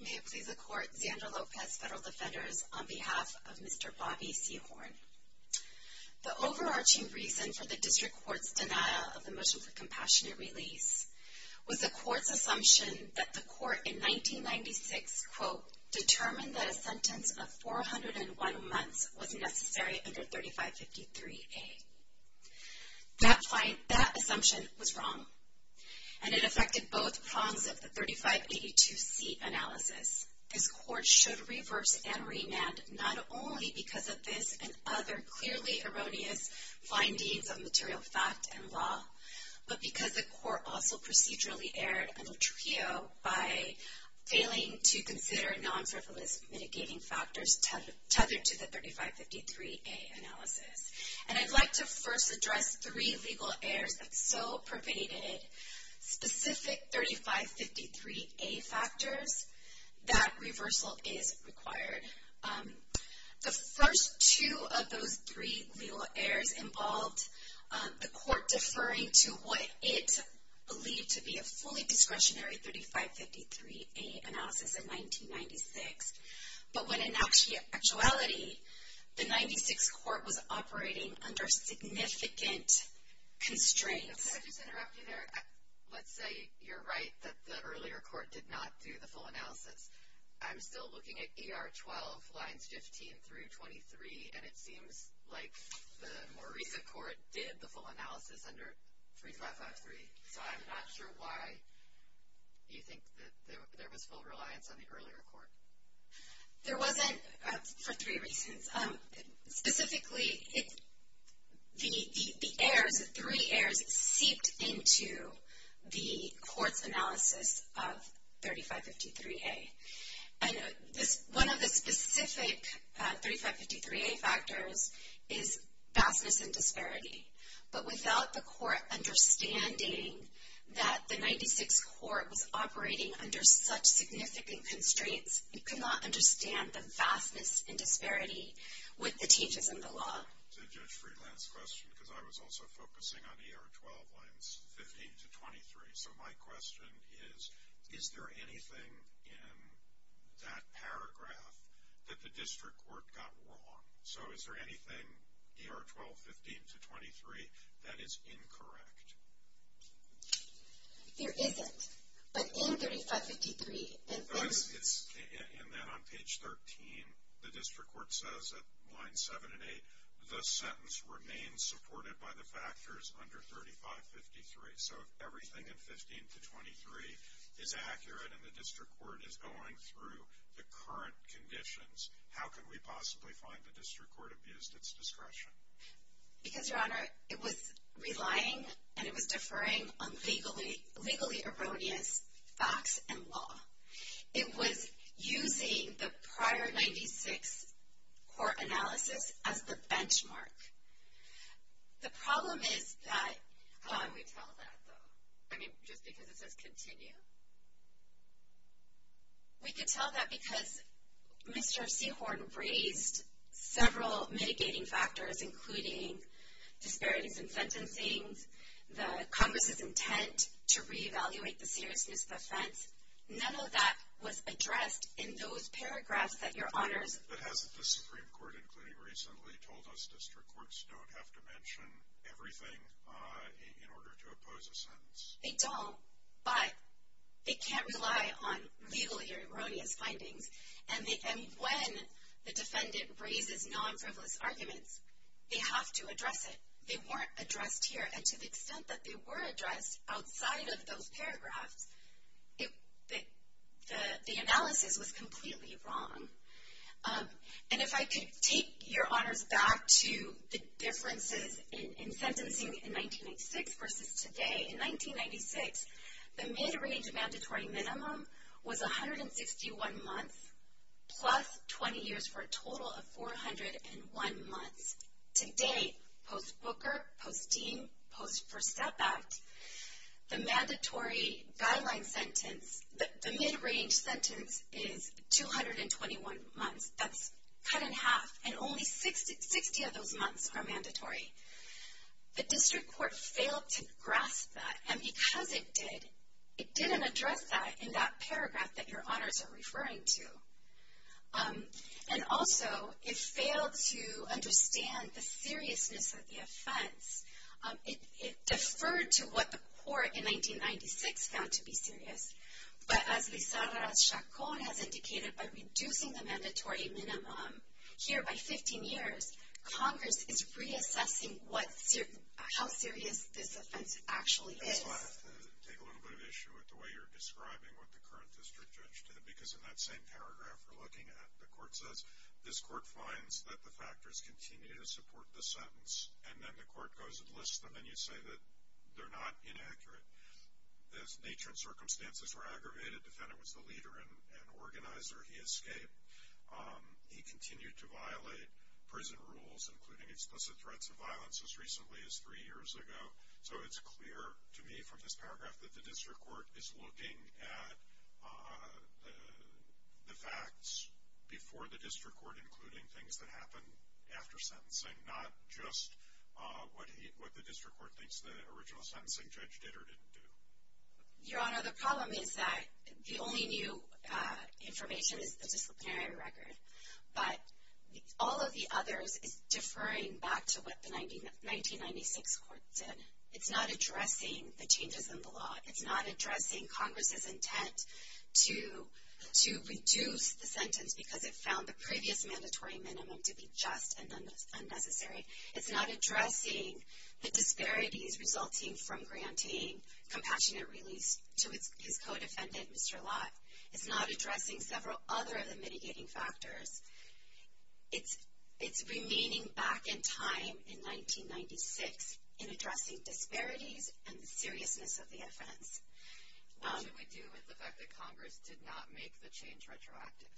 May it please the Court, Xander Lopez, Federal Defenders, on behalf of Mr. Bobby Sehorn. The overarching reason for the District Court's denial of the motion for compassionate release was the Court's assumption that the Court in 1996, quote, determined that a sentence of 401 months was necessary under 3553A. That assumption was wrong, and it affected both prongs of the 3582C analysis. This Court should reverse and remand not only because of this and other clearly erroneous findings of material fact and law, but because the Court also procedurally erred in a trio by failing to consider non-frivolous mitigating factors tethered to the 3553A analysis. And I'd like to first address three legal errors that so pervaded specific 3553A factors that reversal is required. The first two of those three legal errors involved the Court deferring to what it believed to be a fully discretionary 3553A analysis in 1996. But when in actuality, the 96 Court was operating under significant constraints. Could I just interrupt you there? Let's say you're right that the earlier Court did not do the full analysis. I'm still looking at ER 12 lines 15 through 23, and it seems like the more recent Court did the full analysis under 3553, so I'm not sure why you think that there was full reliance on the earlier Court. There wasn't for three reasons. Specifically, the errors, the three errors seeped into the Court's analysis of 3553A. And one of the specific 3553A factors is vastness and disparity. But without the Court understanding that the 96 Court was operating under such significant constraints, it could not understand the vastness and disparity with the changes in the law. So Judge Friedland's question, because I was also focusing on ER 12 lines 15 to 23. So my question is, is there anything in that paragraph that the District Court got wrong? So is there anything ER 12, 15 to 23 that is incorrect? There isn't. But in 3553, there is. And then on page 13, the District Court says at line 7 and 8, the sentence remains supported by the factors under 3553. So if everything in 15 to 23 is accurate and the District Court is going through the current conditions, how can we possibly find the District Court abused its discretion? Because, Your Honor, it was relying and it was deferring on legally erroneous facts and law. It was using the prior 96 Court analysis as the benchmark. The problem is that. How would we tell that, though? I mean, just because it says continue. We could tell that because Mr. Seahorn raised several mitigating factors, including disparities in sentencing, the Congress's intent to reevaluate the seriousness of offense. None of that was addressed in those paragraphs that Your Honors. But hasn't the Supreme Court, including recently, told us District Courts don't have to mention everything in order to oppose a sentence? They don't, but they can't rely on legally erroneous findings. And when the defendant raises non-frivolous arguments, they have to address it. They weren't addressed here. And to the extent that they were addressed outside of those paragraphs, the analysis was completely wrong. And if I could take Your Honors back to the differences in sentencing in 1996 versus today. In 1996, the mid-range mandatory minimum was 161 months plus 20 years for a total of 401 months. Today, post-Booker, post-Dean, post-First Step Act, the mandatory guideline sentence, the mid-range sentence is 221 months. That's cut in half, and only 60 of those months are mandatory. The District Court failed to grasp that, and because it did, it didn't address that in that paragraph that Your Honors are referring to. And also, it failed to understand the seriousness of the offense. It deferred to what the court in 1996 found to be serious. But as Lizarra Chacon has indicated, by reducing the mandatory minimum here by 15 years, Congress is reassessing what, how serious this offense actually is. I just want to take a little bit of issue with the way you're describing what the current district judge did. Because in that same paragraph we're looking at, the court says, this court finds that the factors continue to support the sentence. And then the court goes and lists them, and you say that they're not inaccurate. The nature and circumstances were aggravated. Defendant was the leader and organizer. He escaped. He continued to violate prison rules, including explicit threats of violence, as recently as three years ago. So it's clear to me from this paragraph that the District Court is looking at the facts before the District Court, including things that happened after sentencing. Not just what the District Court thinks the original sentencing judge did or didn't do. Your Honor, the problem is that the only new information is the disciplinary record. But all of the others is deferring back to what the 1996 court did. It's not addressing the changes in the law. It's not addressing Congress's intent to reduce the sentence because it found the previous mandatory minimum to be just and unnecessary. It's not addressing the disparities resulting from granting compassionate release to his co-defendant, Mr. Lott. It's not addressing several other of the mitigating factors. It's remaining back in time in 1996 in addressing disparities and the seriousness of the offense. What should we do with the fact that Congress did not make the change retroactive?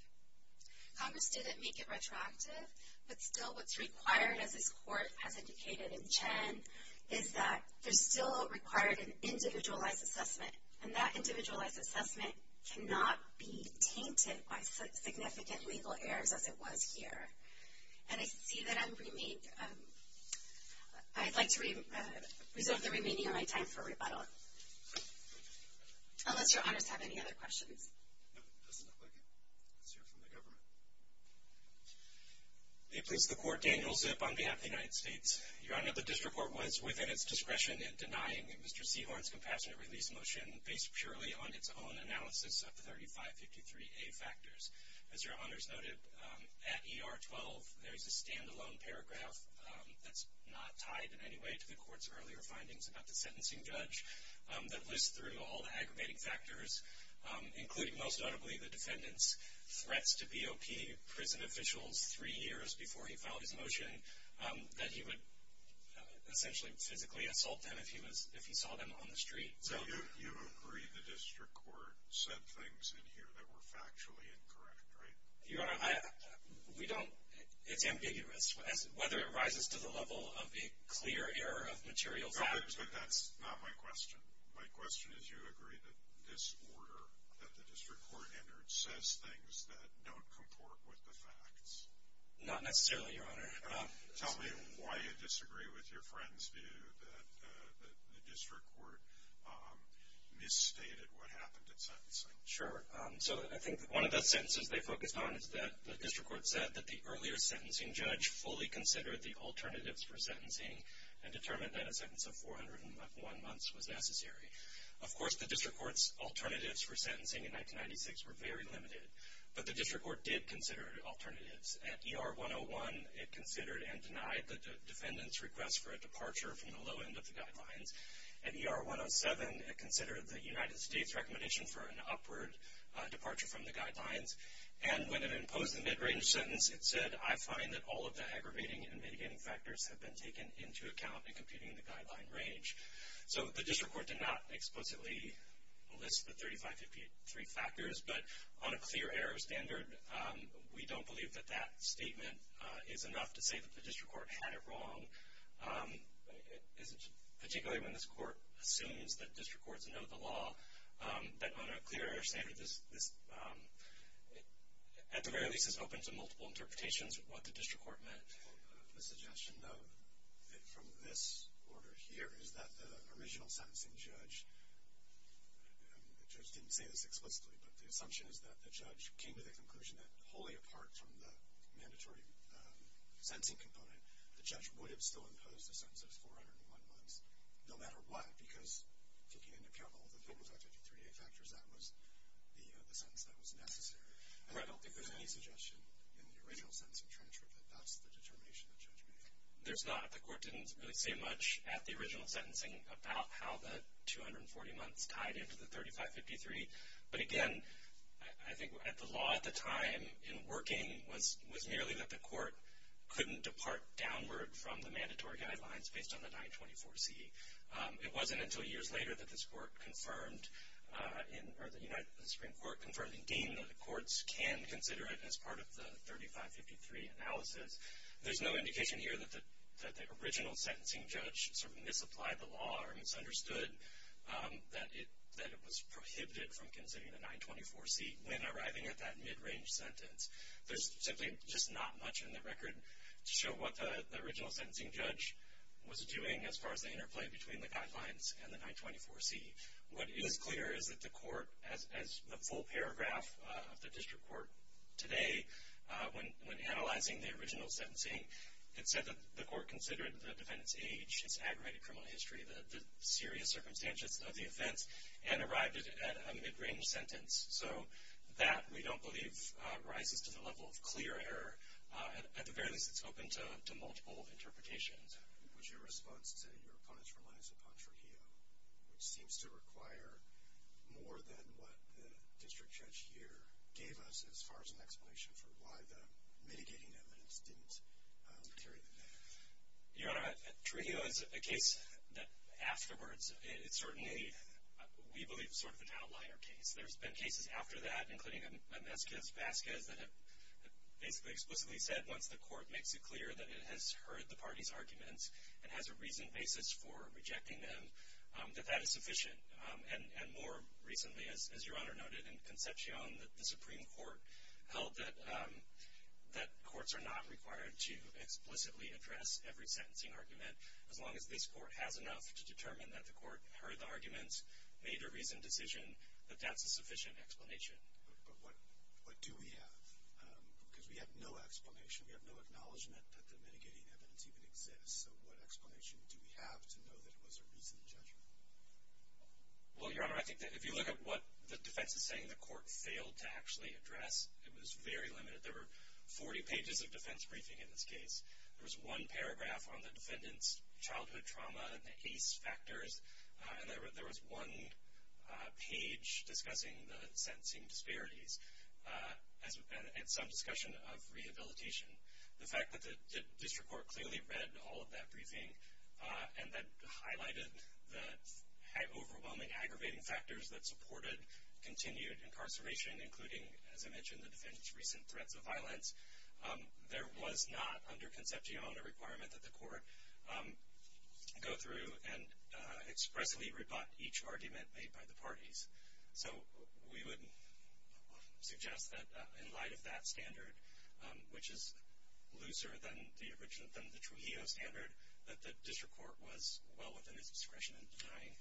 Congress didn't make it retroactive, but still what's required, as this court has indicated in Chen, is that there's still required an individualized assessment. And that individualized assessment cannot be tainted by significant legal errors as it was here. And I see that I'm remaining, I'd like to reserve the remaining of my time for rebuttal. Unless your honors have any other questions. No, it doesn't look like it. Let's hear from the government. May it please the court, Daniel Zip on behalf of the United States. Your honor, the district court was within its discretion in denying Mr. Sehorne's compassionate release motion based purely on its own analysis of the 3553A factors. As your honors noted, at ER 12, there's a standalone paragraph that's not tied in any way to the court's earlier findings about the sentencing judge that lists through all the aggravating factors, including most notably the defendant's threats to BOP prison officials three years before he filed his motion, that he would essentially physically assault them if he saw them on the street. So. You agree the district court said things in here that were factually incorrect, right? Your honor, we don't, it's ambiguous. Whether it rises to the level of a clear error of material factors. But that's not my question. My question is, you agree that this order that the district court entered says things that don't comport with the facts? Not necessarily, your honor. Tell me why you disagree with your friend's view that the district court misstated what happened at sentencing. Sure. So I think one of the sentences they focused on is that the district court said that the earlier sentencing judge fully considered the alternatives for sentencing and determined that a sentence of 401 months was necessary. Of course, the district court's alternatives for sentencing in 1996 were very limited. But the district court did consider alternatives. At ER 101, it considered and denied the defendant's request for a departure from the low end of the guidelines. At ER 107, it considered the United States recommendation for an upward departure from the guidelines. And when it imposed the mid-range sentence, it said, I find that all of the aggravating and mitigating factors have been taken into account in computing the guideline range. So the district court did not explicitly list the 3553 factors. But on a clear-error standard, we don't believe that that statement is enough to say that the district court had it wrong, particularly when this court assumes that district courts know the law. But on a clear-error standard, this, at the very least, is open to multiple interpretations of what the district court meant. The suggestion, though, from this order here is that the original sentencing judge, the judge didn't say this explicitly, but the assumption is that the judge came to the conclusion that wholly apart from the mandatory sentencing component, the judge would have still imposed a sentence of 401 months, no matter what, because taking into account all of the 3553 factors, that was the sentence that was necessary. I don't think there's any suggestion in the original sentence of transcript that that's the determination the judge made. There's not. The court didn't really say much at the original sentencing about how the 240 months tied into the 3553. But again, I think the law at the time in working was merely that the court couldn't depart downward from the mandatory guidelines based on the 924C. It wasn't until years later that this court confirmed, or the Supreme Court confirmed, and deemed that the courts can consider it as part of the 3553 analysis. There's no indication here that the original sentencing judge sort of misapplied the law or misunderstood that it was prohibited from considering the 924C when arriving at that mid-range sentence. There's simply just not much in the record to show what the original sentencing judge was doing as far as the interplay between the guidelines and the 924C. What is clear is that the court, as the full paragraph of the district court today, when analyzing the original sentencing, it said that the court considered the defendant's age, his aggravated criminal history, the serious circumstances of the offense, and arrived at a mid-range sentence. So that, we don't believe, rises to the level of clear error. At the very least, it's open to multiple interpretations. What's your response to your opponents' reliance upon Trujillo, which seems to require more than what the district judge here gave us as far as an explanation for why the mitigating evidence didn't carry the case? Your Honor, Trujillo is a case that, afterwards, it certainly, we believe, is sort of an outlier case. There's been cases after that, including a Mezquez-Vazquez that have basically explicitly said once the court makes it clear that it has heard the party's arguments and has a reasoned basis for rejecting them, that that is sufficient. And more recently, as Your Honor noted, in Concepcion, the Supreme Court held that courts are not required to explicitly address every sentencing argument, as long as this court has enough to determine that the court heard the arguments, made a reasoned decision, that that's a sufficient explanation. But what do we have? Because we have no explanation. We have no acknowledgment that the mitigating evidence even exists. So what explanation do we have to know that it was a reasoned judgment? Well, Your Honor, I think that if you look at what the defense is saying, the court failed to actually address. It was very limited. There were 40 pages of defense briefing in this case. There was one paragraph on the defendant's childhood trauma and the ACE factors. And there was one page discussing the sentencing disparities. And some discussion of rehabilitation. The fact that the district court clearly read all of that briefing and that highlighted the overwhelming aggravating factors that supported continued incarceration, including, as I mentioned, the defendant's recent threats of violence, there was not under Concepcion a requirement that the court go through and expressly rebut each argument made by the parties. So we would suggest that in light of that standard, which is looser than the Trujillo standard, that the district court was well within its discretion in denying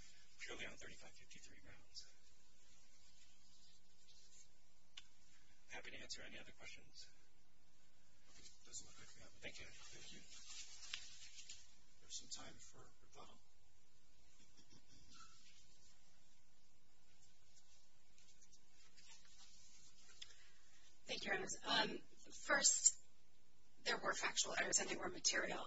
purely on 3553 grounds. Happy to answer any other questions. Thank you. Thank you. We have some time for rebuttal. Thank you, Your Honor. First, there were factual errors and there were material.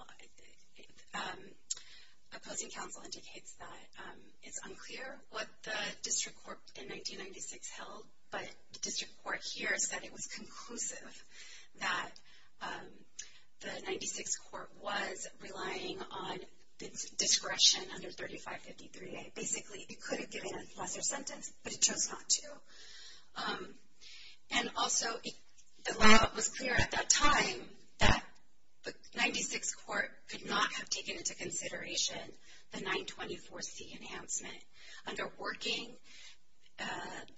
Opposing counsel indicates that it's unclear what the district court in 1996 held, but the district court here said it was conclusive that the 96 court was relying on its discretion under 3553A. Basically, it could have given a lesser sentence, but it chose not to. And also, the law was clear at that time that the 96 court could not have taken into consideration the 924C enhancement. Under working,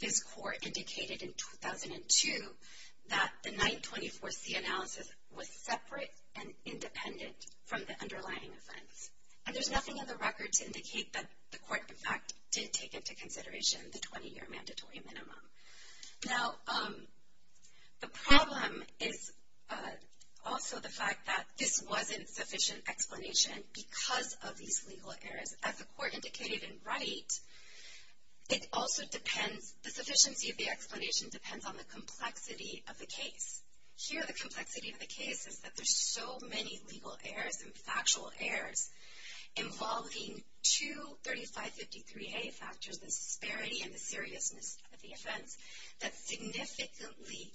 this court indicated in 2002 that the 924C analysis was separate and independent from the underlying offense. And there's nothing on the record to indicate that the court, in fact, did take into consideration the 20-year mandatory minimum. Now, the problem is also the fact that this wasn't sufficient explanation because of these legal errors. As the court indicated in Wright, it also depends, the sufficiency of the explanation depends on the complexity of the case. Here, the complexity of the case is that there's so many legal errors and factual errors involving two 3553A factors, the disparity and the seriousness of the offense, that significantly,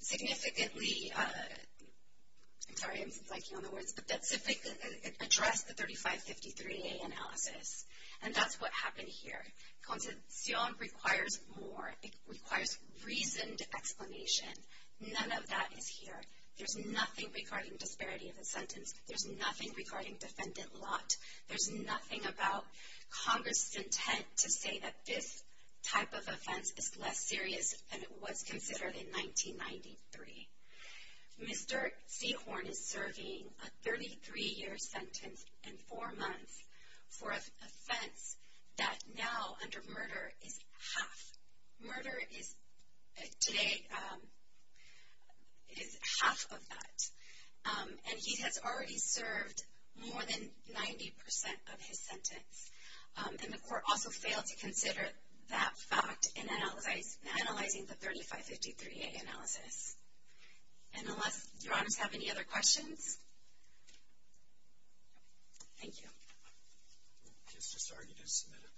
significantly, I'm sorry, I'm flaking on the words, but that address the 3553A analysis. And that's what happened here. Consencion requires more. It requires reasoned explanation. None of that is here. There's nothing regarding disparity of the sentence. There's nothing regarding defendant lot. There's nothing about Congress' intent to say that this type of offense is less serious than it was considered in 1993. Mr. Sehorne is serving a 33-year sentence and four months for an offense that now, under murder, is half. Murder is today, is half of that. And he has already served more than 90% of his sentence. And the court also failed to consider that fact in analyzing the 3553A analysis. And unless your honors have any other questions, thank you. Okay, it's just argued and submitted.